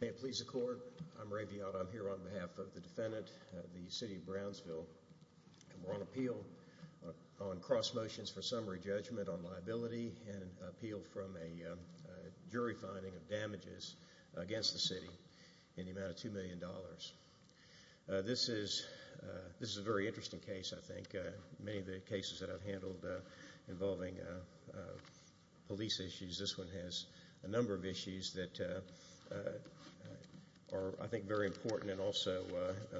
May it please the court, I'm Ray Viotto. I'm here on behalf of the defendant, the City of Brownsville. We're on appeal on cross motions for summary judgment on liability and appeal from a jury finding of damages against the city in the amount of $2 million. This is a very interesting case I think. Many of the cases that I've handled involving police issues, this one has a number of issues that are I think very important and also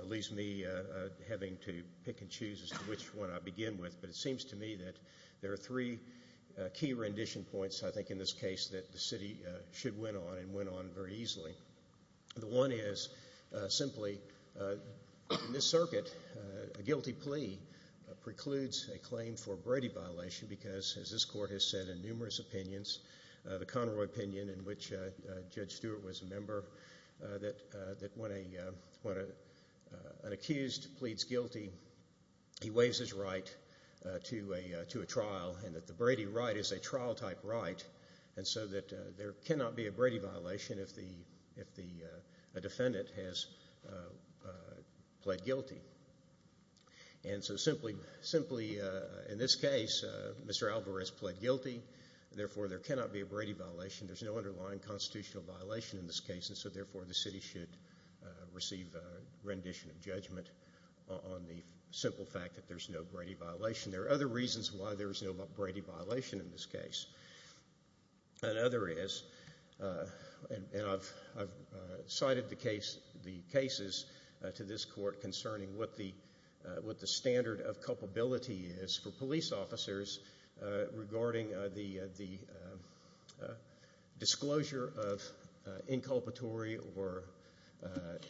leaves me having to pick and choose as to which one I begin with. But it seems to me that there are three key rendition points I think in this case that the city should win on and win on very easily. The one is simply in this circuit a guilty plea precludes a claim for a Brady violation because as this court has said in numerous opinions, the Conroy opinion in which Judge Stewart was a member, that when an accused pleads guilty, he waives his right to a trial and that the Brady right is a trial type right and so that there cannot be a Brady violation if a defendant has pled guilty. And so simply in this case, Mr. Alvarez pled guilty, therefore there cannot be a Brady violation. There's no underlying constitutional violation in this case and so therefore the city should receive a rendition of judgment on the simple fact that there's no Brady violation. There are other reasons why there's no Brady violation in this case. Another is, and I've cited the cases to this court concerning what the standard of culpability is for police officers regarding the disclosure of inculpatory or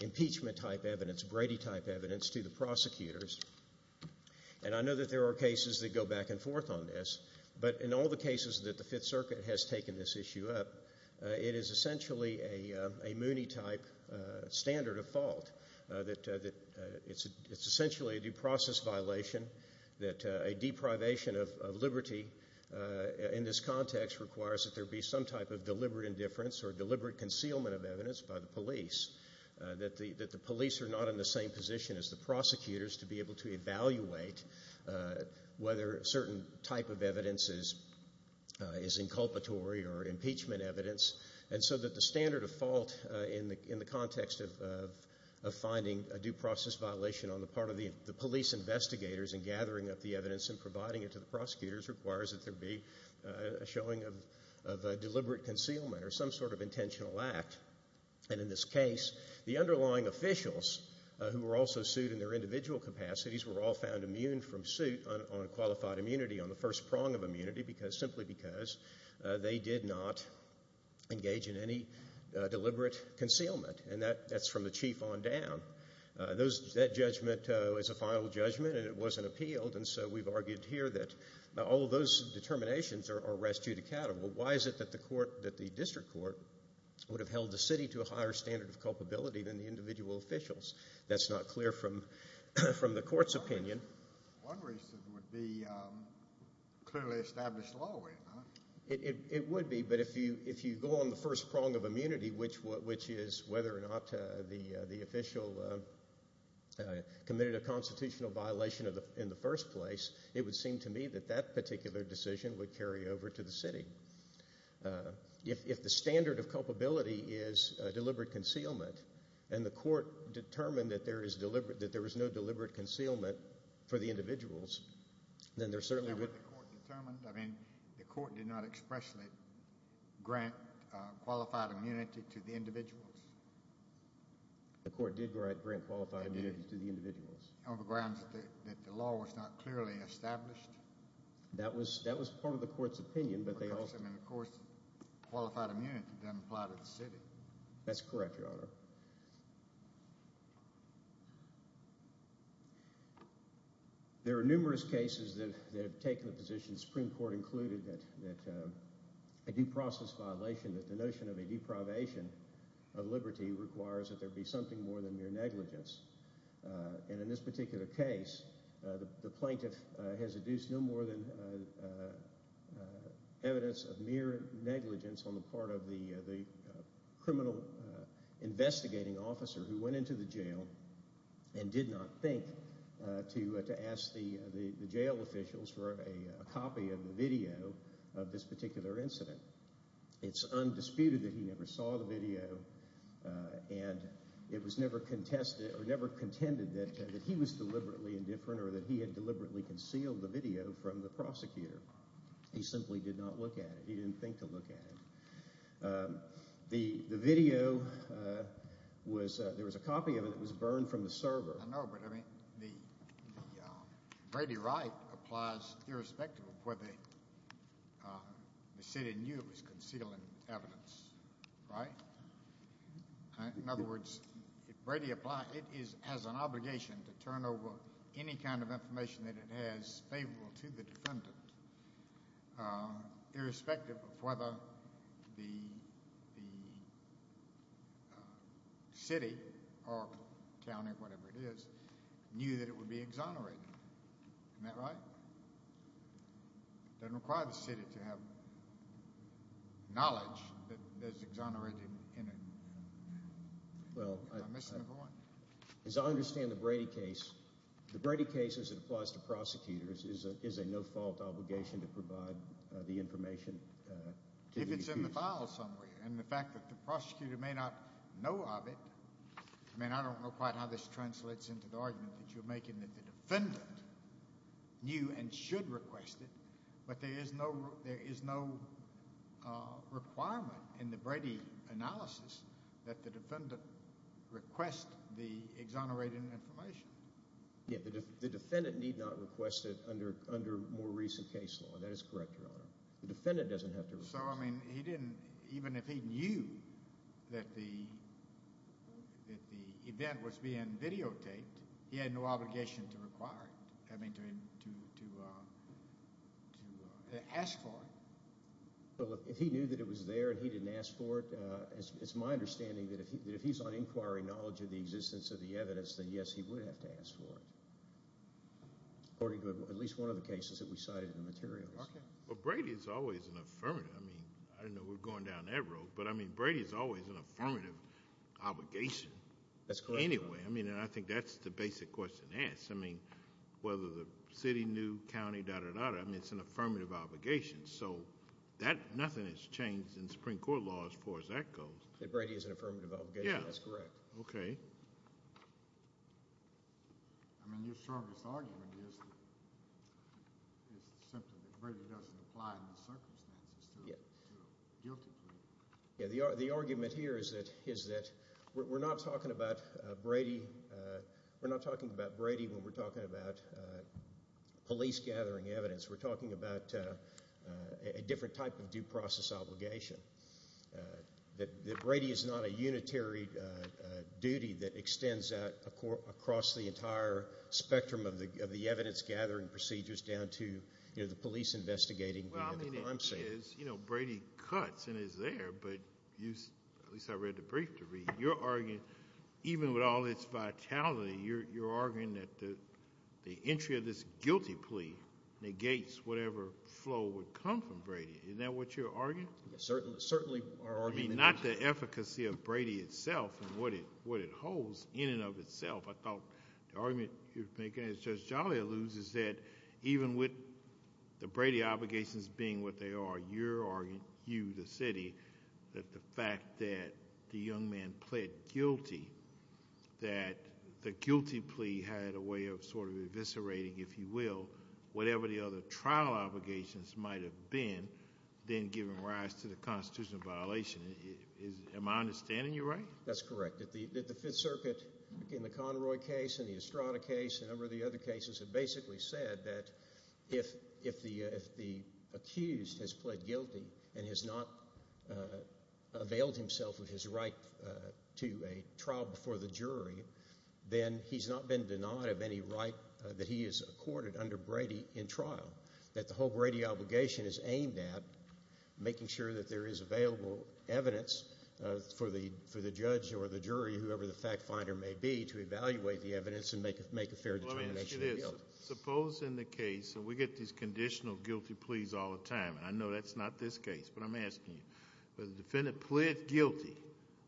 impeachment type evidence, Brady type evidence to the prosecutors. And I know that there are cases that go back and forth on this, but in all the cases that the Fifth Circuit has taken this issue up, it is essentially a Mooney type standard of fault. It's essentially a due process violation that a deprivation of liberty in this context requires that there be some type of deliberate indifference or deliberate concealment of evidence by the police, that the police are not in the same position as the prosecutors to be able to evaluate whether certain type of evidence is inculpatory or impeachment evidence. And so that the standard of fault in the context of finding a due process violation on the part of the police investigators in gathering up the evidence and providing it to the prosecutors requires that there be a showing of deliberate concealment or some sort of intentional act. And in this case, the underlying officials who were also sued in their individual capacities were all found immune from suit on qualified immunity, on the first prong of immunity, simply because they did not engage in any deliberate concealment. And that's from the chief on down. That judgment was a final judgment, and it wasn't appealed. And so we've argued here that all of those determinations are res judicata. Well, why is it that the district court would have held the city to a higher standard of culpability than the individual officials? That's not clear from the court's opinion. One reason would be clearly established law, would it not? It would be, but if you go on the first prong of immunity, which is whether or not the official committed a constitutional violation in the first place, it would seem to me that that particular decision would carry over to the city. If the standard of culpability is deliberate concealment and the court determined that there is no deliberate concealment for the individuals, then there certainly would… I mean, the court did not expressly grant qualified immunity to the individuals. The court did grant qualified immunity to the individuals. On the grounds that the law was not clearly established. That was part of the court's opinion, but they also… Of course, qualified immunity doesn't apply to the city. That's correct, Your Honor. There are numerous cases that have taken the position, the Supreme Court included, that a due process violation, that the notion of a deprivation of liberty requires that there be something more than mere negligence. And in this particular case, the plaintiff has adduced no more than evidence of mere negligence on the part of the criminal investigating officer who went into the jail and did not think to ask the jail officials for a copy of the video of this particular incident. It's undisputed that he never saw the video and it was never contested or never contended that he was deliberately indifferent or that he had deliberately concealed the video from the prosecutor. He simply did not look at it. He didn't think to look at it. The video was… There was a copy of it that was burned from the server. I know, but I mean the Brady right applies irrespective of whether the city knew it was concealing evidence, right? In other words, if Brady applied, it has an obligation to turn over any kind of information that it has favorable to the defendant irrespective of whether the city or county, whatever it is, knew that it would be exonerated. Isn't that right? It doesn't require the city to have knowledge that is exonerated in it. Well… I'm missing the point. As I understand the Brady case, the Brady case as it applies to prosecutors is a no-fault obligation to provide the information to the accused. And the fact that the prosecutor may not know of it, I mean I don't know quite how this translates into the argument that you're making that the defendant knew and should request it, but there is no requirement in the Brady analysis that the defendant request the exonerated information. Yeah, the defendant need not request it under more recent case law. That is correct, Your Honor. The defendant doesn't have to request it. So, I mean, he didn't, even if he knew that the event was being videotaped, he had no obligation to require it, I mean to ask for it. Well, if he knew that it was there and he didn't ask for it, it's my understanding that if he's on inquiry knowledge of the existence of the evidence, then yes, he would have to ask for it according to at least one of the cases that we cited in the materials. Okay. Well, Brady is always an affirmative. I mean, I don't know, we're going down that road, but I mean Brady is always an affirmative obligation. That's correct, Your Honor. Anyway, I mean, and I think that's the basic question asked. I mean, whether the city knew, county, da-da-da-da, I mean it's an affirmative obligation. So, that, nothing has changed in Supreme Court law as far as that goes. That Brady is an affirmative obligation. Yeah. That's correct. Okay. I mean, your strongest argument is simply that Brady doesn't apply in those circumstances to a guilty plea. Yeah, the argument here is that we're not talking about Brady when we're talking about police gathering evidence. We're talking about a different type of due process obligation. That Brady is not a unitary duty that extends out across the entire spectrum of the evidence gathering procedures down to, you know, the police investigating. Well, I mean, it is. You know, Brady cuts and is there, but at least I read the brief to read. You're arguing, even with all this vitality, you're arguing that the entry of this guilty plea negates whatever flow would come from Brady. Isn't that what you're arguing? Certainly. I mean, not the efficacy of Brady itself and what it holds in and of itself. I thought the argument you're making, as Judge Jolly alludes, is that even with the Brady obligations being what they are, you're arguing, you, the city, that the fact that the young man pled guilty, that the guilty plea had a way of sort of eviscerating, if you will, whatever the other trial obligations might have been, then giving rise to the constitutional violation. Am I understanding you right? That's correct. The Fifth Circuit, in the Conroy case and the Estrada case and a number of the other cases, have basically said that if the accused has pled guilty and has not availed himself of his right to a trial before the jury, then he's not been denied of any right that he has accorded under Brady in trial, that the whole Brady obligation is aimed at making sure that there is available evidence for the judge or the jury, whoever the fact finder may be, to evaluate the evidence and make a fair determination of guilt. Let me ask you this. Suppose in the case, and we get these conditional guilty pleas all the time, and I know that's not this case, but I'm asking you. The defendant pled guilty,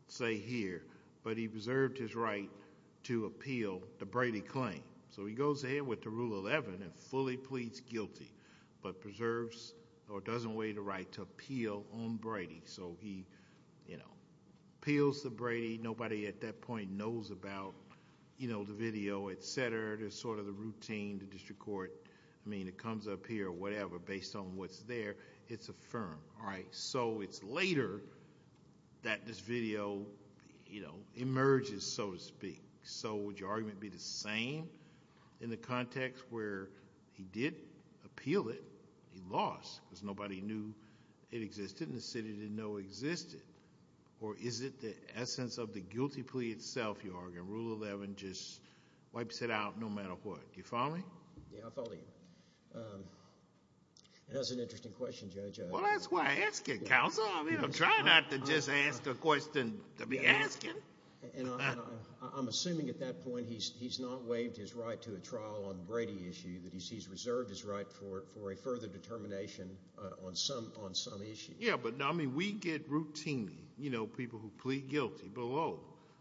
say here, but he preserved his right to appeal the Brady claim. So he goes ahead with the Rule 11 and fully pleads guilty, but preserves or doesn't waive the right to appeal on Brady. So he appeals to Brady. Nobody at that point knows about the video, et cetera. It's sort of the routine, the district court. I mean, it comes up here, whatever, based on what's there. It's affirmed. All right, so it's later that this video emerges, so to speak. So would your argument be the same in the context where he did appeal it, he lost because nobody knew it existed and the city didn't know it existed, or is it the essence of the guilty plea itself, you argue, and Rule 11 just wipes it out no matter what? Do you follow me? Yeah, I follow you. That's an interesting question, Judge. Well, that's why I ask it, Counselor. I mean, I'm trying not to just ask a question to be asked. And I'm assuming at that point he's not waived his right to a trial on the Brady issue, that he's reserved his right for a further determination on some issue. Yeah, but, I mean, we get routinely, you know, people who plead guilty below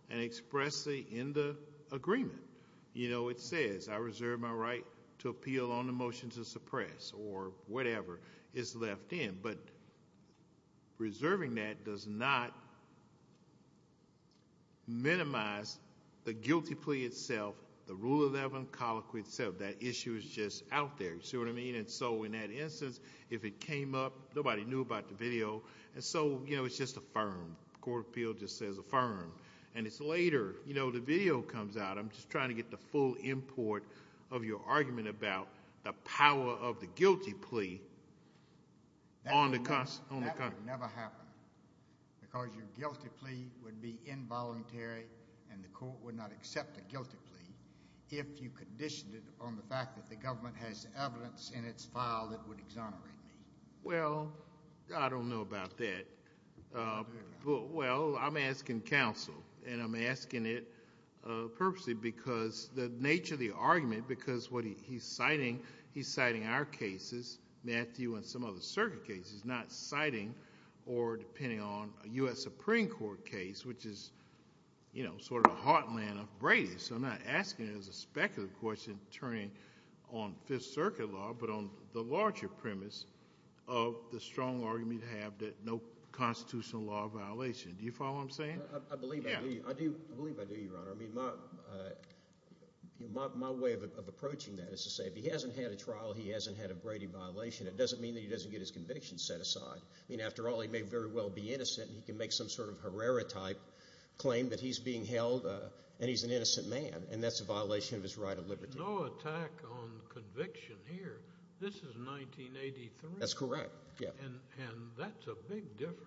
and expressly in the agreement. You know, it says I reserve my right to appeal on the motion to suppress or whatever is left in. But reserving that does not minimize the guilty plea itself, the Rule 11 colloquy itself. That issue is just out there. You see what I mean? And so in that instance, if it came up, nobody knew about the video. And so, you know, it's just affirmed. Court of Appeal just says affirmed. And it's later, you know, the video comes out. I'm just trying to get the full import of your argument about the power of the guilty plea. That would never happen because your guilty plea would be involuntary, and the court would not accept a guilty plea if you conditioned it on the fact that the government has evidence in its file that would exonerate me. Well, I don't know about that. Well, I'm asking counsel, and I'm asking it purposely because the nature of the argument, because what he's citing, he's citing our cases, Matthew and some other circuit cases, not citing or depending on a U.S. Supreme Court case, which is, you know, sort of the heartland of Brady. So I'm not asking it as a speculative question turning on Fifth Circuit law, but on the larger premise of the strong argument you have that no constitutional law of violation. Do you follow what I'm saying? I believe I do, Your Honor. I mean, my way of approaching that is to say if he hasn't had a trial, he hasn't had a Brady violation, it doesn't mean that he doesn't get his conviction set aside. I mean, after all, he may very well be innocent, and he can make some sort of Herrera-type claim that he's being held and he's an innocent man, and that's a violation of his right of liberty. But there's no attack on conviction here. This is 1983. That's correct. And that's a big difference.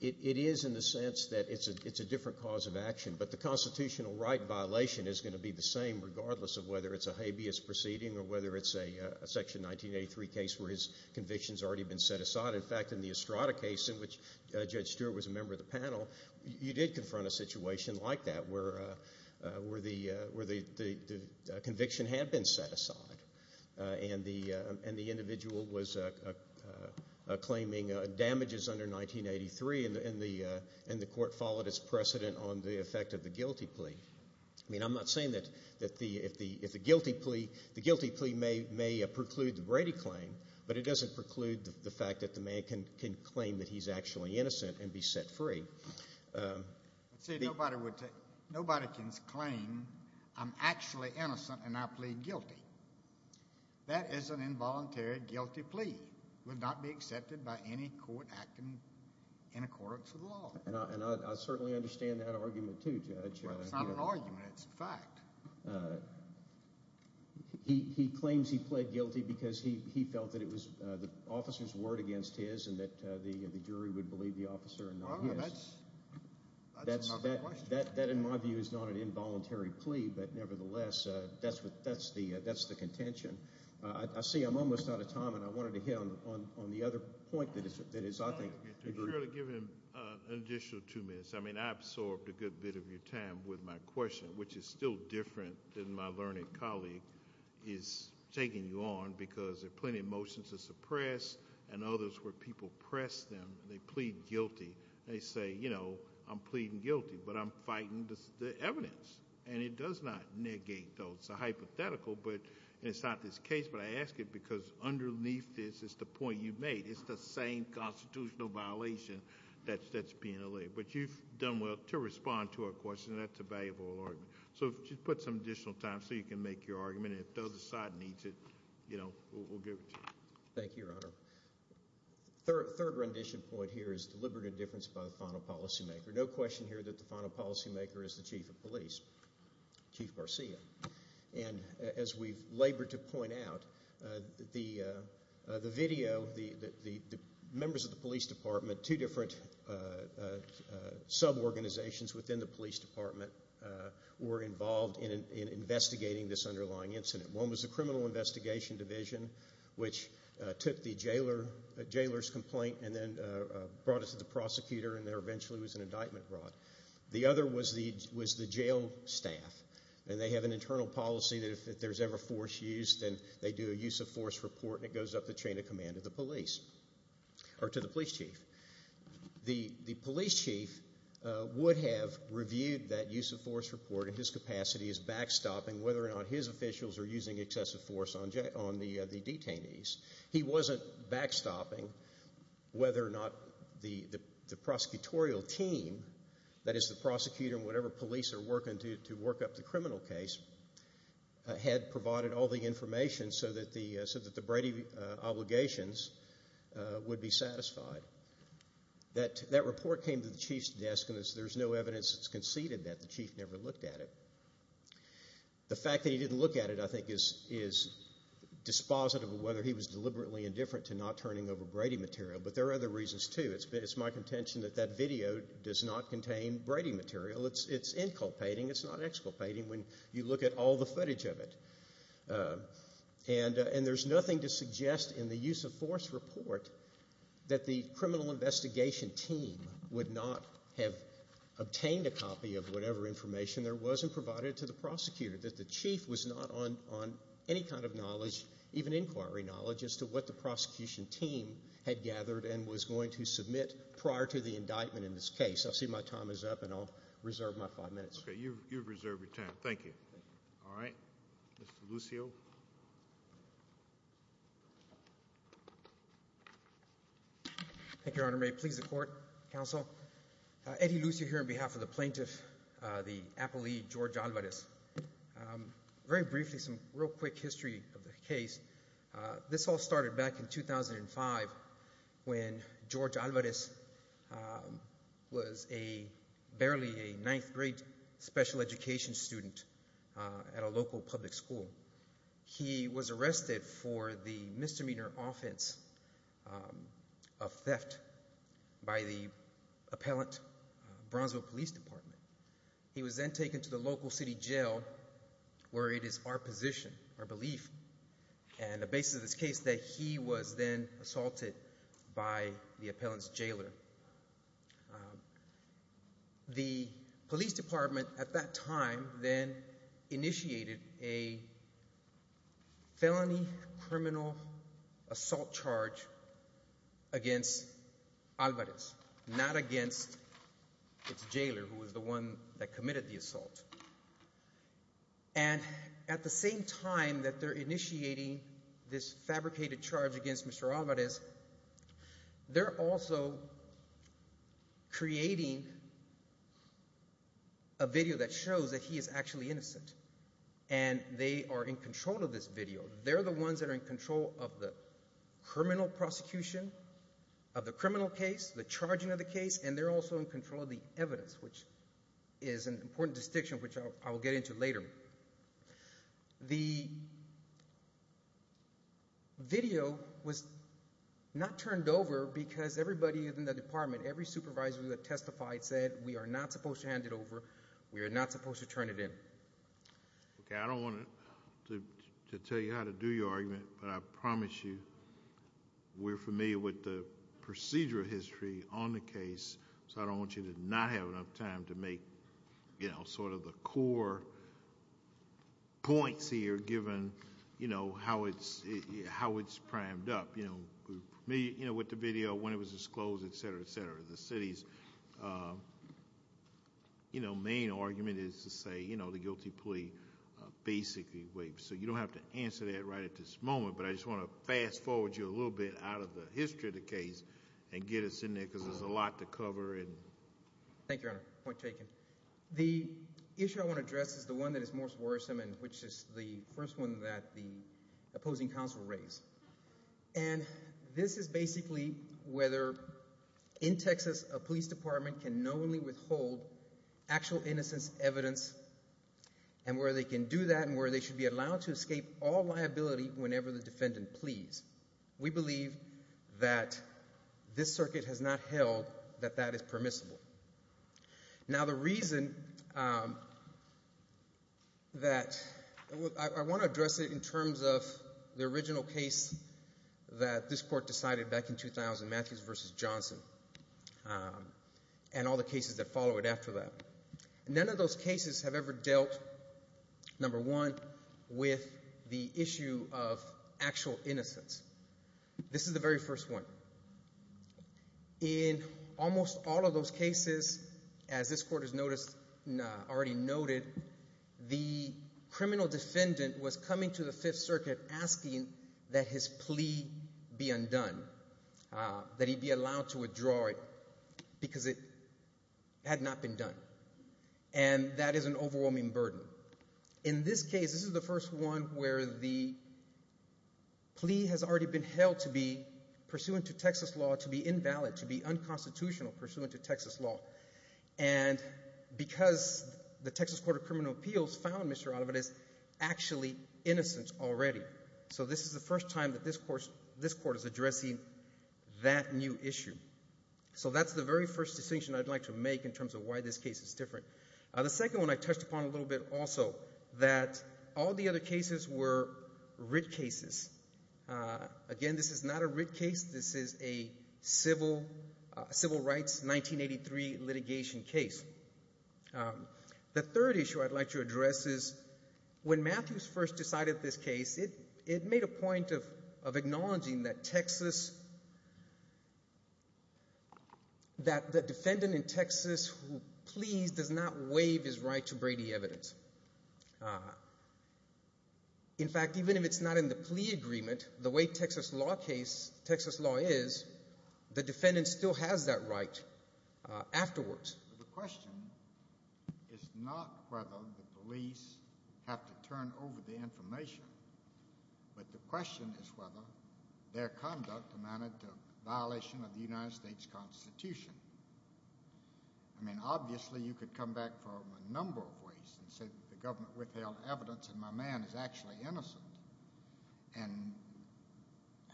It is in the sense that it's a different cause of action, but the constitutional right violation is going to be the same regardless of whether it's a habeas proceeding or whether it's a Section 1983 case where his conviction's already been set aside. In fact, in the Estrada case in which Judge Stewart was a member of the panel, you did confront a situation like that where the conviction had been set aside and the individual was claiming damages under 1983, and the court followed its precedent on the effect of the guilty plea. I mean, I'm not saying that the guilty plea may preclude the Brady claim, but it doesn't preclude the fact that the man can claim that he's actually innocent and be set free. See, nobody can claim, I'm actually innocent and I plead guilty. That is an involuntary guilty plea. It would not be accepted by any court acting in accordance with the law. And I certainly understand that argument too, Judge. It's not an argument. It's a fact. He claims he pled guilty because he felt that it was the officer's word against his and that the jury would believe the officer and not his. That's not my question. That, in my view, is not an involuntary plea, but nevertheless, that's the contention. I see I'm almost out of time, and I wanted to hit on the other point that is, I think. Could you really give him an additional two minutes? I mean, I absorbed a good bit of your time with my question, which is still different than my learned colleague is taking you on because there are plenty of motions to suppress and others where people press them and they plead guilty. They say, you know, I'm pleading guilty, but I'm fighting the evidence. And it does not negate those. It's a hypothetical, and it's not this case, but I ask it because underneath this is the point you've made. It's the same constitutional violation that's penalized. But you've done well to respond to our question. That's a valuable argument. So just put some additional time so you can make your argument, and if the other side needs it, you know, we'll give it to you. Thank you, Your Honor. The third rendition point here is deliberate indifference by the final policymaker. No question here that the final policymaker is the chief of police, Chief Garcia. And as we've labored to point out, the video, the members of the police department, two different suborganizations within the police department were involved in investigating this underlying incident. One was the Criminal Investigation Division, which took the jailer's complaint and then brought it to the prosecutor, and there eventually was an indictment brought. The other was the jail staff, and they have an internal policy that if there's ever force used, then they do a use-of-force report, and it goes up the chain of command to the police, or to the police chief. The police chief would have reviewed that use-of-force report in his capacity as backstopping whether or not his officials are using excessive force on the detainees. He wasn't backstopping whether or not the prosecutorial team, that is the prosecutor and whatever police are working to work up the criminal case, had provided all the information so that the Brady obligations would be satisfied. That report came to the chief's desk, and there's no evidence that's conceded that the chief never looked at it. The fact that he didn't look at it, I think, is dispositive of whether he was deliberately indifferent to not turning over Brady material, but there are other reasons too. It's my contention that that video does not contain Brady material. It's inculpating, it's not exculpating. When you look at all the footage of it, and there's nothing to suggest in the use-of-force report that the criminal investigation team would not have obtained a copy of whatever information there was and provided it to the prosecutor, that the chief was not on any kind of knowledge, even inquiry knowledge, as to what the prosecution team had gathered and was going to submit prior to the indictment in this case. I see my time is up, and I'll reserve my five minutes. Okay. You've reserved your time. Thank you. All right. Mr. Lucio. Thank you, Your Honor. May it please the Court, Counsel. Eddie Lucio here on behalf of the plaintiff, the appellee, George Alvarez. Very briefly, some real quick history of the case. This all started back in 2005 when George Alvarez was barely a ninth-grade special education student at a local public school. He was arrested for the misdemeanor offense of theft by the appellant, Bronzeville Police Department. He was then taken to the local city jail where it is our position, our belief, and the basis of this case that he was then assaulted by the appellant's jailer. The police department at that time then initiated a felony criminal assault charge against Alvarez, not against its jailer, who was the one that committed the assault. And at the same time that they're initiating this fabricated charge against Mr. Alvarez, they're also creating a video that shows that he is actually innocent, and they are in control of this video. They're the ones that are in control of the criminal prosecution of the criminal case, the charging of the case, and they're also in control of the evidence, which is an important distinction which I will get into later. The video was not turned over because everybody in the department, every supervisor who had testified, said we are not supposed to hand it over, we are not supposed to turn it in. Okay, I don't want to tell you how to do your argument, but I promise you we're familiar with the procedural history on the case, so I don't want you to not have enough time to make sort of the core points here given how it's primed up. We're familiar with the video, when it was disclosed, etc., etc. The city's main argument is to say the guilty plea basically waived, so you don't have to answer that right at this moment, but I just want to fast forward you a little bit out of the history of the case and get us in there because there's a lot to cover. Thank you, Your Honor. Point taken. The issue I want to address is the one that is most worrisome, and which is the first one that the opposing counsel raised, and this is basically whether in Texas a police department can knowingly withhold actual innocence evidence and where they can do that and where they should be allowed to escape all liability whenever the defendant pleads. We believe that this circuit has not held that that is permissible. Now, the reason that I want to address it in terms of the original case that this court decided back in 2000, Matthews v. Johnson, and all the cases that followed after that. None of those cases have ever dealt, number one, with the issue of actual innocence. This is the very first one. In almost all of those cases, as this court has already noted, the criminal defendant was coming to the Fifth Circuit asking that his plea be undone, that he be allowed to withdraw it because it had not been done, and that is an overwhelming burden. In this case, this is the first one where the plea has already been held to be pursuant to Texas law, to be invalid, to be unconstitutional pursuant to Texas law, and because the Texas Court of Criminal Appeals found Mr. Oliver is actually innocent already. So this is the first time that this court is addressing that new issue. So that's the very first distinction I'd like to make in terms of why this case is different. The second one I touched upon a little bit also, that all the other cases were writ cases. Again, this is not a writ case. This is a civil rights 1983 litigation case. The third issue I'd like to address is when Matthews first decided this case, it made a point of acknowledging that Texas, that the defendant in Texas who pleas does not waive his right to Brady evidence. In fact, even if it's not in the plea agreement, the way Texas law is, the defendant still has that right afterwards. The question is not whether the police have to turn over the information, but the question is whether their conduct amounted to violation of the United States Constitution. I mean, obviously you could come back from a number of ways and say the government withheld evidence and my man is actually innocent and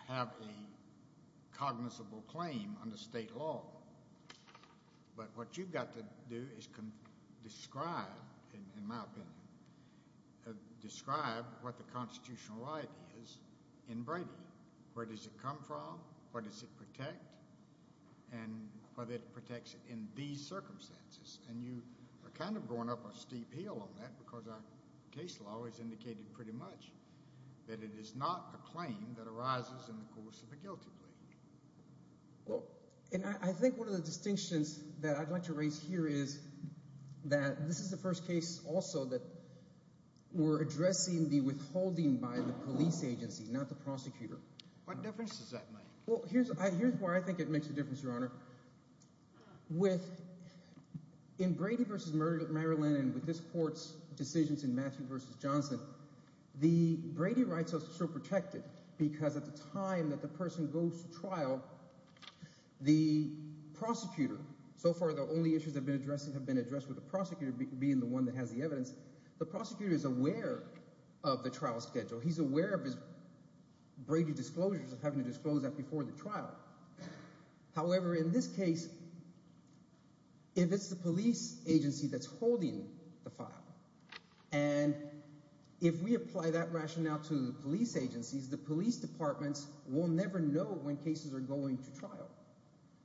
have a cognizable claim under state law. But what you've got to do is describe, in my opinion, describe what the constitutional right is in Brady. Where does it come from? What does it protect? And whether it protects in these circumstances. And you are kind of going up a steep hill on that because our case law has indicated pretty much that it is not a claim that arises in the course of a guilty plea. Well, and I think one of the distinctions that I'd like to raise here is that this is the first case also that we're addressing the withholding by the police agency, not the prosecutor. What difference does that make? Well, here's where I think it makes a difference, Your Honor. With – in Brady v. Maryland and with this court's decisions in Matthew v. Johnson, the Brady rights are still protected because at the time that the person goes to trial, the prosecutor – so far the only issues that have been addressed have been addressed with the prosecutor being the one that has the evidence. The prosecutor is aware of the trial schedule. He's aware of his Brady disclosures of having to disclose that before the trial. However, in this case, if it's the police agency that's holding the file and if we apply that rationale to the police agencies, the police departments will never know when cases are going to trial.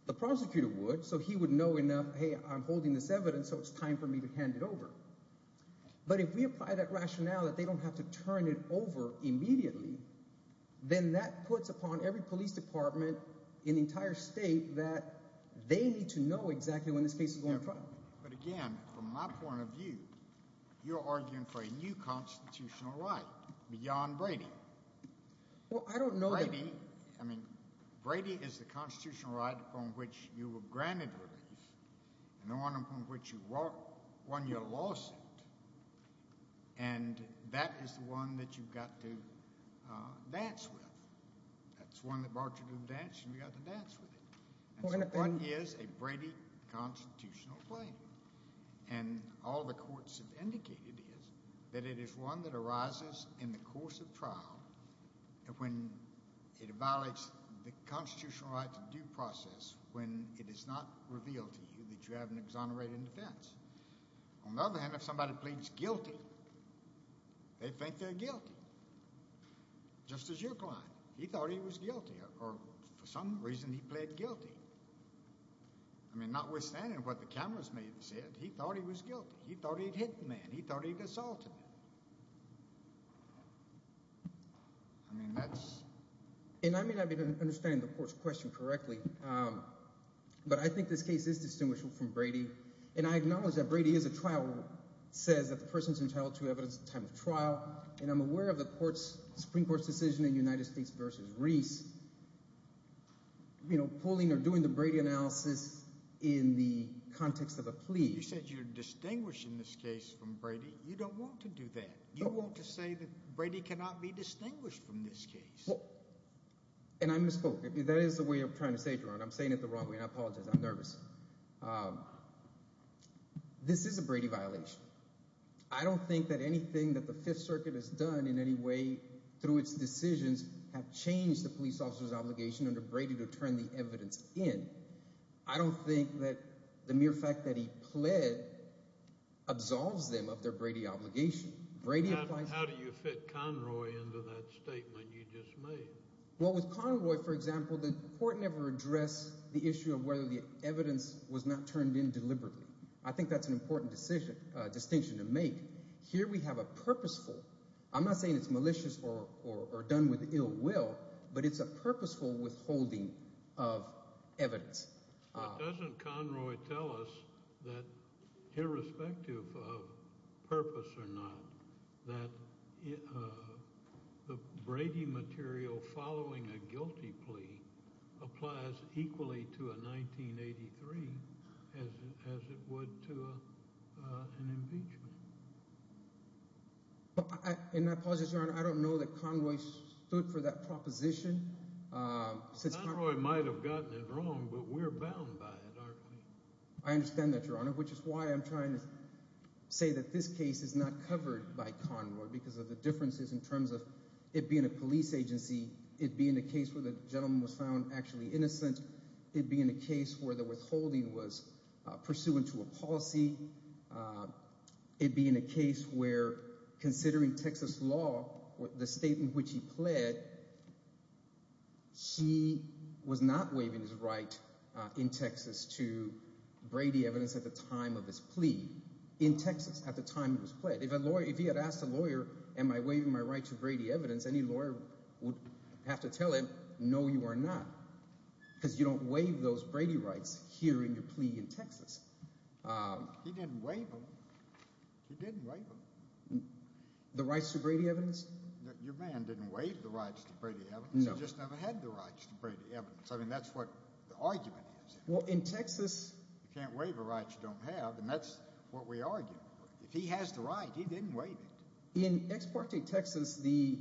The prosecutor would, so he would know enough, hey, I'm holding this evidence, so it's time for me to hand it over. But if we apply that rationale that they don't have to turn it over immediately, then that puts upon every police department in the entire state that they need to know exactly when this case is going to trial. But again, from my point of view, you're arguing for a new constitutional right beyond Brady. Well, I don't know that – Brady – I mean, Brady is the constitutional right upon which you were granted relief and the one upon which you won your lawsuit, and that is the one that you've got to dance with. That's the one that brought you to the dance, and you've got to dance with it. And so what is a Brady constitutional claim? And all the courts have indicated is that it is one that arises in the course of trial when it evaluates the constitutional right to due process when it is not revealed to you that you have an exonerated defense. On the other hand, if somebody pleads guilty, they think they're guilty, just as your client. He thought he was guilty, or for some reason he pled guilty. I mean, notwithstanding what the cameras may have said, he thought he was guilty. He thought he'd hit the man. He thought he'd assaulted him. I mean, that's – And I may not be able to understand the court's question correctly, but I think this case is distinguishable from Brady, and I acknowledge that Brady is a trial – says that the person is entitled to evidence at the time of trial, and I'm aware of the Supreme Court's decision in United States v. Reese pulling or doing the Brady analysis in the context of a plea. You said you're distinguishing this case from Brady. You don't want to do that. You want to say that Brady cannot be distinguished from this case. And I misspoke. That is the way I'm trying to say it, Your Honor. I'm saying it the wrong way, and I apologize. I'm nervous. This is a Brady violation. I don't think that anything that the Fifth Circuit has done in any way through its decisions have changed the police officer's obligation under Brady to turn the evidence in. I don't think that the mere fact that he pled absolves them of their Brady obligation. How do you fit Conroy into that statement you just made? Well, with Conroy, for example, the court never addressed the issue of whether the evidence was not turned in deliberately. I think that's an important distinction to make. Here we have a purposeful – I'm not saying it's malicious or done with ill will, but it's a purposeful withholding of evidence. But doesn't Conroy tell us that, irrespective of purpose or not, that the Brady material following a guilty plea applies equally to a 1983 as it would to an impeachment? And I apologize, Your Honor. I don't know that Conroy stood for that proposition. Conroy might have gotten it wrong, but we're bound by it, aren't we? I understand that, Your Honor, which is why I'm trying to say that this case is not covered by Conroy because of the differences in terms of it being a police agency, it being a case where the gentleman was found actually innocent, it being a case where the withholding was pursuant to a policy, it being a case where, considering Texas law, the state in which he pled, she was not waiving his right in Texas to Brady evidence at the time of his plea. In Texas, at the time it was pled. If he had asked a lawyer, am I waiving my right to Brady evidence, any lawyer would have to tell him, no, you are not because you don't waive those Brady rights here in your plea in Texas. He didn't waive them. He didn't waive them. The rights to Brady evidence? Your man didn't waive the rights to Brady evidence. He just never had the rights to Brady evidence. I mean, that's what the argument is. Well, in Texas… You can't waive a right you don't have, and that's what we argue. If he has the right, he didn't waive it. In Ex parte Texas, the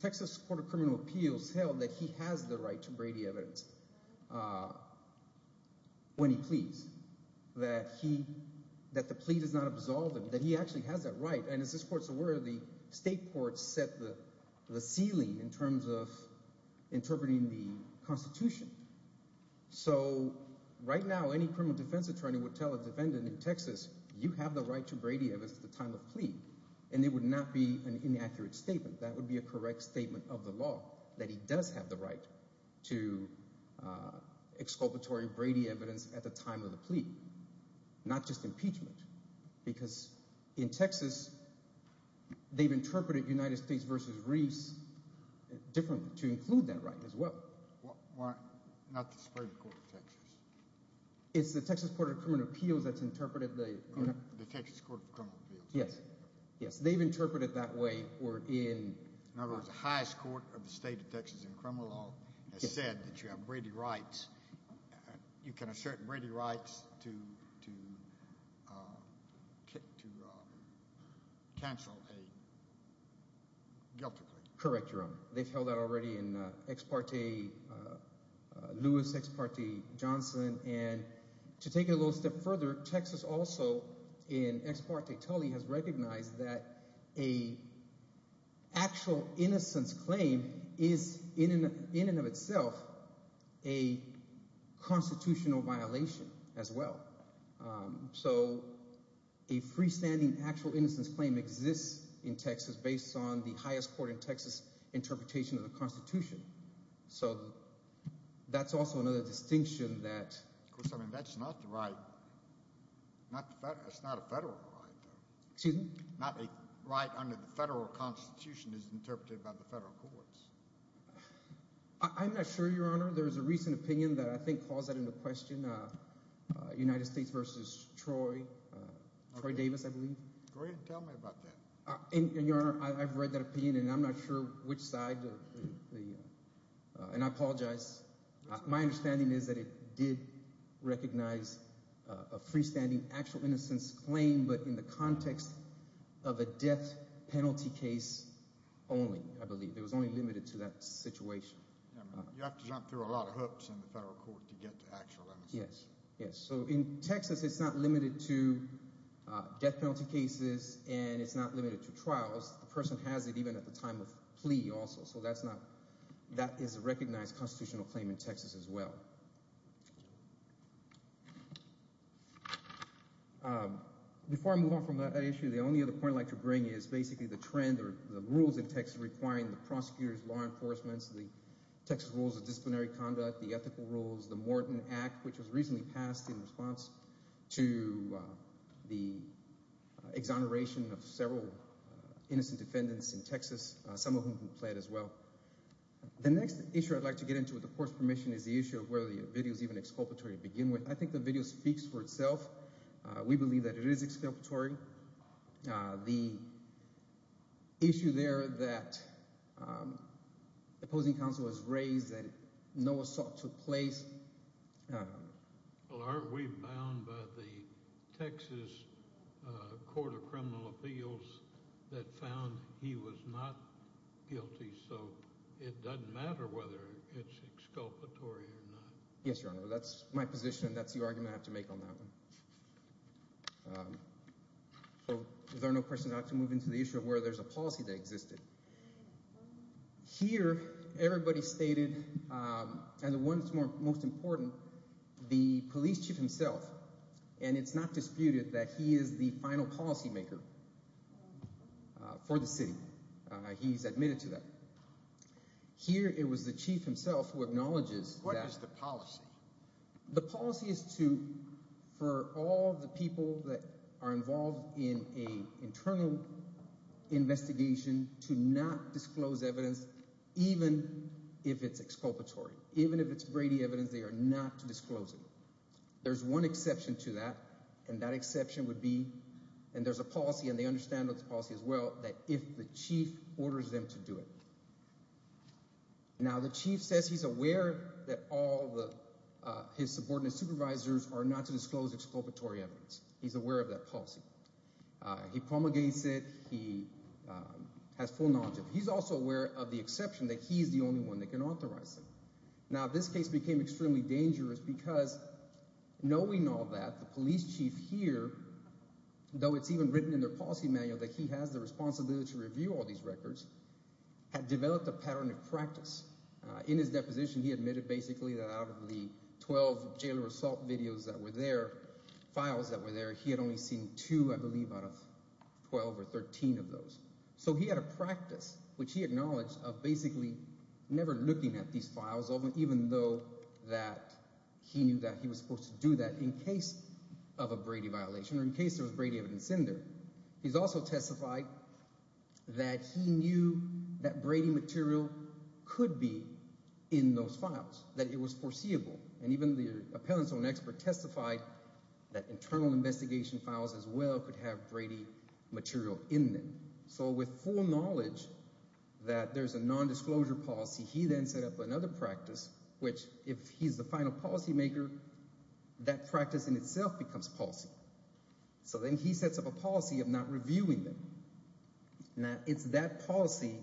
Texas Court of Criminal Appeals held that he has the right to Brady evidence when he pleads, that he – that the plea does not absolve him, that he actually has that right. And as this court's aware, the state courts set the ceiling in terms of interpreting the Constitution. So right now, any criminal defense attorney would tell a defendant in Texas, you have the right to Brady evidence at the time of plea, and it would not be an inaccurate statement. That would be a correct statement of the law, that he does have the right to exculpatory Brady evidence at the time of the plea, not just impeachment. Because in Texas, they've interpreted United States v. Reese differently to include that right as well. Not the Supreme Court of Texas. It's the Texas Court of Criminal Appeals that's interpreted the… The Texas Court of Criminal Appeals. Yes, yes. They've interpreted it that way or in… In other words, the highest court of the state of Texas in criminal law has said that you have Brady rights. You can assert Brady rights to cancel a guilty plea. Correct your honor. They've held that already in Ex parte Lewis, Ex parte Johnson. And to take it a little step further, Texas also in Ex parte Tully has recognized that an actual innocence claim is in and of itself a constitutional violation as well. So a freestanding actual innocence claim exists in Texas based on the highest court in Texas interpretation of the Constitution. So that's also another distinction that… Of course, I mean that's not the right. It's not a federal right. Excuse me? Not a right under the federal Constitution is interpreted by the federal courts. I'm not sure, your honor. There's a recent opinion that I think calls that into question. United States v. Troy. Troy Davis, I believe. Go ahead and tell me about that. And your honor, I've read that opinion, and I'm not sure which side. And I apologize. My understanding is that it did recognize a freestanding actual innocence claim, but in the context of a death penalty case only, I believe. It was only limited to that situation. You have to jump through a lot of hoops in the federal court to get to actual innocence. Yes, yes. So in Texas, it's not limited to death penalty cases and it's not limited to trials. The person has it even at the time of plea also, so that is a recognized constitutional claim in Texas as well. Before I move on from that issue, the only other point I'd like to bring is basically the trend or the rules in Texas requiring the prosecutors, law enforcement, the Texas Rules of Disciplinary Conduct, the Ethical Rules, the Morton Act, which was recently passed in response to the exoneration of several innocent defendants in Texas, some of whom plead as well. The next issue I'd like to get into with the court's permission is the issue of whether the video is even exculpatory to begin with. I think the video speaks for itself. We believe that it is exculpatory. The issue there that the opposing counsel has raised that no assault took place. Well, aren't we bound by the Texas Court of Criminal Appeals that found he was not guilty? So it doesn't matter whether it's exculpatory or not. Yes, Your Honor. That's my position. That's the argument I have to make on that one. So is there no question not to move into the issue of whether there's a policy that existed? Here everybody stated, and the one that's most important, the police chief himself, and it's not disputed that he is the final policymaker for the city. He's admitted to that. Here it was the chief himself who acknowledges that… What is the policy? The policy is to, for all the people that are involved in an internal investigation, to not disclose evidence even if it's exculpatory. Even if it's Brady evidence, they are not to disclose it. There's one exception to that, and that exception would be – and there's a policy, and they understand this policy as well – that if the chief orders them to do it. Now the chief says he's aware that all his subordinate supervisors are not to disclose exculpatory evidence. He's aware of that policy. He promulgates it. He has full knowledge of it. He's also aware of the exception that he's the only one that can authorize it. Now this case became extremely dangerous because knowing all that, the police chief here, though it's even written in their policy manual that he has the responsibility to review all these records, had developed a pattern of practice. In his deposition, he admitted basically that out of the 12 jail or assault videos that were there, files that were there, he had only seen two, I believe, out of 12 or 13 of those. So he had a practice, which he acknowledged, of basically never looking at these files, even though that he knew that he was supposed to do that in case of a Brady violation or in case there was Brady evidence in there. He's also testified that he knew that Brady material could be in those files, that it was foreseeable. And even the appellant's own expert testified that internal investigation files as well could have Brady material in them. So with full knowledge that there's a nondisclosure policy, he then set up another practice, which if he's the final policymaker, that practice in itself becomes policy. So then he sets up a policy of not reviewing them. Now, it's that policy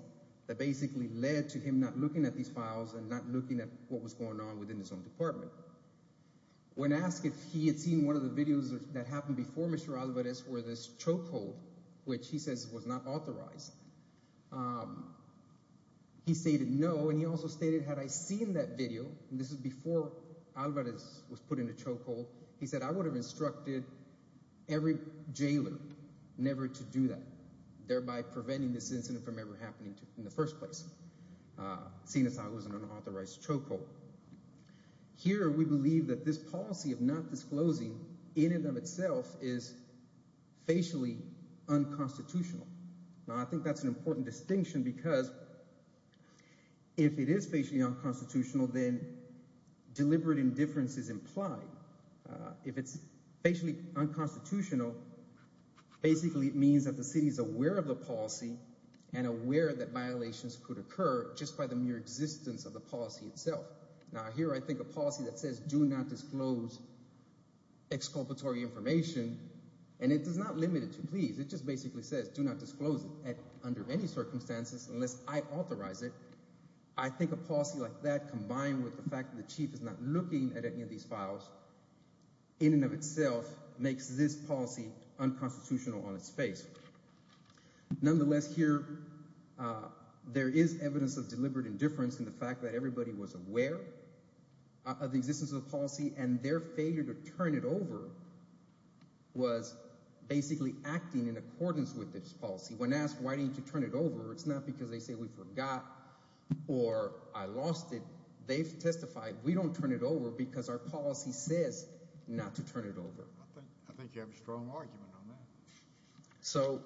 that basically led to him not looking at these files and not looking at what was going on within his own department. When asked if he had seen one of the videos that happened before Mr. Alvarez were this chokehold, which he says was not authorized, he stated no. And he also stated, had I seen that video, and this is before Alvarez was put in a chokehold, he said I would have instructed every jailor never to do that, thereby preventing this incident from ever happening in the first place, seeing as how it was an unauthorized chokehold. Here we believe that this policy of not disclosing any of them itself is facially unconstitutional. Now, I think that's an important distinction because if it is facially unconstitutional, then deliberate indifference is implied. If it's facially unconstitutional, basically it means that the city is aware of the policy and aware that violations could occur just by the mere existence of the policy itself. Now, here I think a policy that says do not disclose exculpatory information, and it does not limit it to pleas. It just basically says do not disclose it under any circumstances unless I authorize it. I think a policy like that combined with the fact that the chief is not looking at any of these files in and of itself makes this policy unconstitutional on its face. Nonetheless, here there is evidence of deliberate indifference in the fact that everybody was aware of the existence of the policy and their failure to turn it over was basically acting in accordance with this policy. When asked why didn't you turn it over, it's not because they say we forgot or I lost it. They've testified we don't turn it over because our policy says not to turn it over. I think you have a strong argument on that. So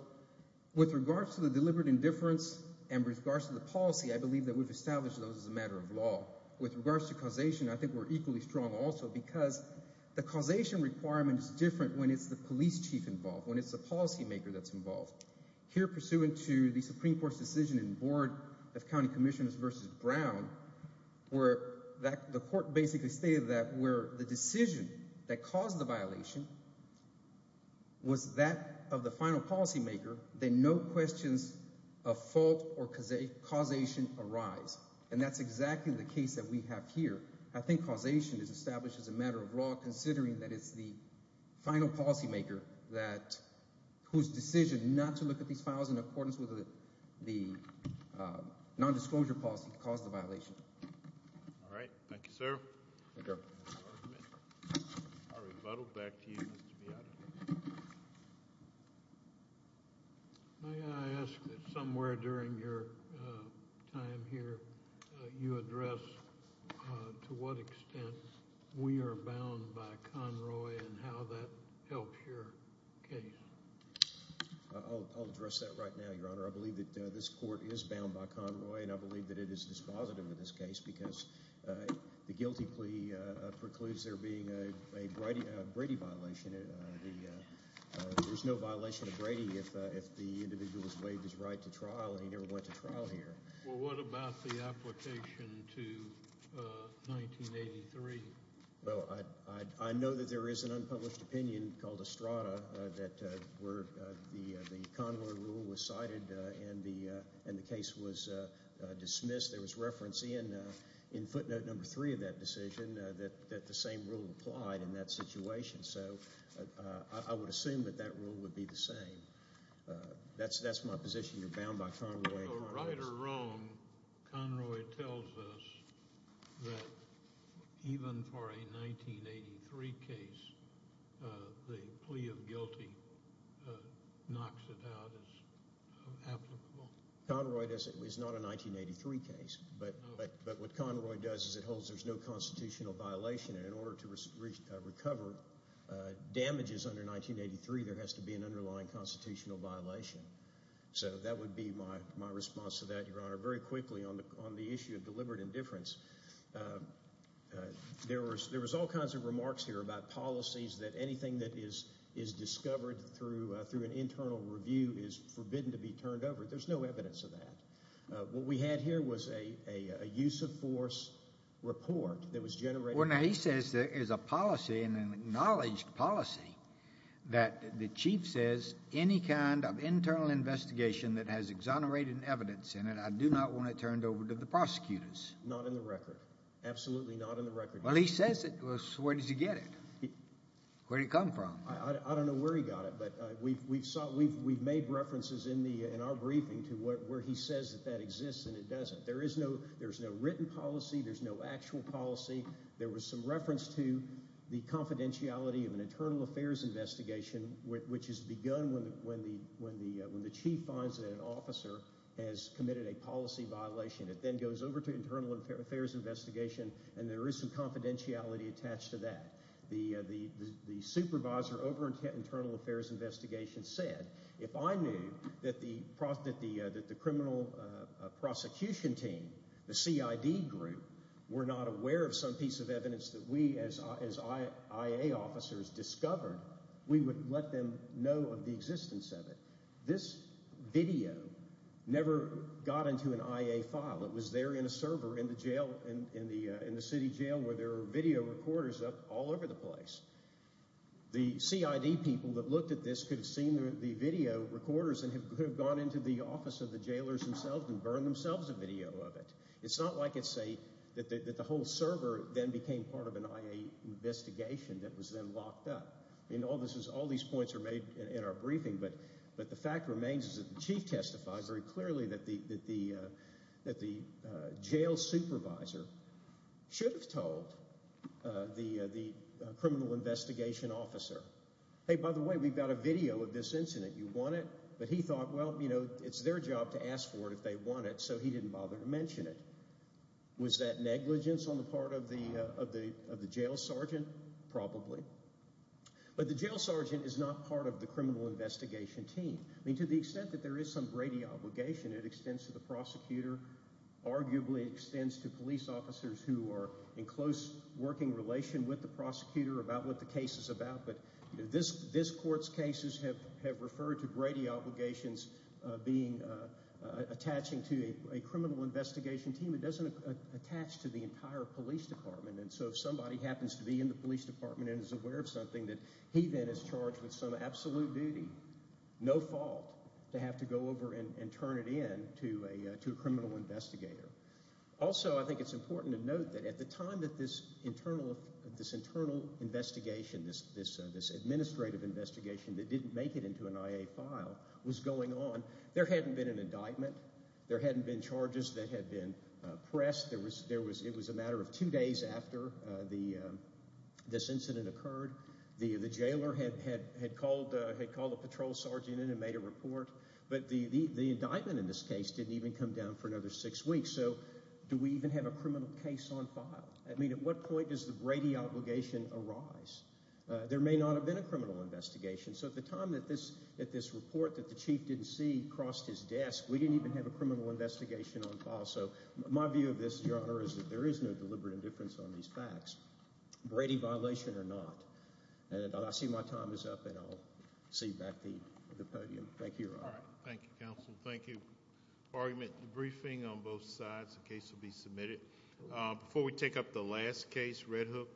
with regards to the deliberate indifference and with regards to the policy, I believe that we've established those as a matter of law. With regards to causation, I think we're equally strong also because the causation requirement is different when it's the police chief involved, when it's the policymaker that's involved. Here pursuant to the Supreme Court's decision in Board of County Commissioners v. Brown where the court basically stated that where the decision that caused the violation was that of the final policymaker, then no questions of fault or causation arise. And that's exactly the case that we have here. I think causation is established as a matter of law considering that it's the final policymaker whose decision not to look at these files in accordance with the nondisclosure policy caused the violation. All right. Thank you, sir. Thank you. I'll rebuttal back to you, Mr. Miyata. May I ask that somewhere during your time here you address to what extent we are bound by Conroy and how that helps your case? I'll address that right now, Your Honor. I believe that this court is bound by Conroy, and I believe that it is dispositive in this case because the guilty plea precludes there being a Brady violation. There's no violation of Brady if the individual has waived his right to trial and he never went to trial here. Well, what about the application to 1983? Well, I know that there is an unpublished opinion called Estrada that the Conroy rule was cited and the case was dismissed. There was reference in footnote number three of that decision that the same rule applied in that situation. So I would assume that that rule would be the same. That's my position. You're bound by Conroy. Right or wrong, Conroy tells us that even for a 1983 case, the plea of guilty knocks it out as applicable. Conroy is not a 1983 case, but what Conroy does is it holds there's no constitutional violation, and in order to recover damages under 1983, there has to be an underlying constitutional violation. So that would be my response to that, Your Honor. Very quickly on the issue of deliberate indifference, there was all kinds of remarks here about policies that anything that is discovered through an internal review is forbidden to be turned over. There's no evidence of that. What we had here was a use of force report that was generated. Well, now he says there is a policy and an acknowledged policy that the chief says any kind of internal investigation that has exonerated evidence in it, I do not want it turned over to the prosecutors. Not in the record. Absolutely not in the record. Well, he says it. Where does he get it? Where did it come from? I don't know where he got it, but we've made references in our briefing to where he says that that exists and it doesn't. There is no written policy. There's no actual policy. There was some reference to the confidentiality of an internal affairs investigation, which is begun when the chief finds that an officer has committed a policy violation. It then goes over to internal affairs investigation, and there is some confidentiality attached to that. The supervisor over internal affairs investigation said, if I knew that the criminal prosecution team, the CID group, were not aware of some piece of evidence that we as IA officers discovered, we would let them know of the existence of it. This video never got into an IA file. It was there in a server in the city jail where there were video recorders up all over the place. The CID people that looked at this could have seen the video recorders and could have gone into the office of the jailers themselves and burned themselves a video of it. It's not like it's a – that the whole server then became part of an IA investigation that was then locked up. All these points are made in our briefing, but the fact remains is that the chief testified very clearly that the jail supervisor should have told the criminal investigation officer, hey, by the way, we've got a video of this incident. You want it? But he thought, well, you know, it's their job to ask for it if they want it, so he didn't bother to mention it. Was that negligence on the part of the jail sergeant? Probably. But the jail sergeant is not part of the criminal investigation team. I mean, to the extent that there is some Brady obligation, it extends to the prosecutor, arguably extends to police officers who are in close working relation with the prosecutor about what the case is about, but this court's cases have referred to Brady obligations being attaching to a criminal investigation team. It doesn't attach to the entire police department, and so if somebody happens to be in the police department and is aware of something, that he then is charged with some absolute duty, no fault to have to go over and turn it in to a criminal investigator. Also, I think it's important to note that at the time that this internal investigation, this administrative investigation that didn't make it into an IA file was going on, there hadn't been an indictment. There hadn't been charges that had been pressed. It was a matter of two days after this incident occurred. The jailer had called a patrol sergeant in and made a report, but the indictment in this case didn't even come down for another six weeks, so do we even have a criminal case on file? I mean, at what point does the Brady obligation arise? There may not have been a criminal investigation, so at the time that this report that the chief didn't see crossed his desk, we didn't even have a criminal investigation on file. So my view of this, Your Honor, is that there is no deliberate indifference on these facts, Brady violation or not. And I see my time is up, and I'll see you back at the podium. Thank you, Your Honor. Thank you, counsel. Thank you. Argument in the briefing on both sides. The case will be submitted. Before we take up the last case, Red Hook.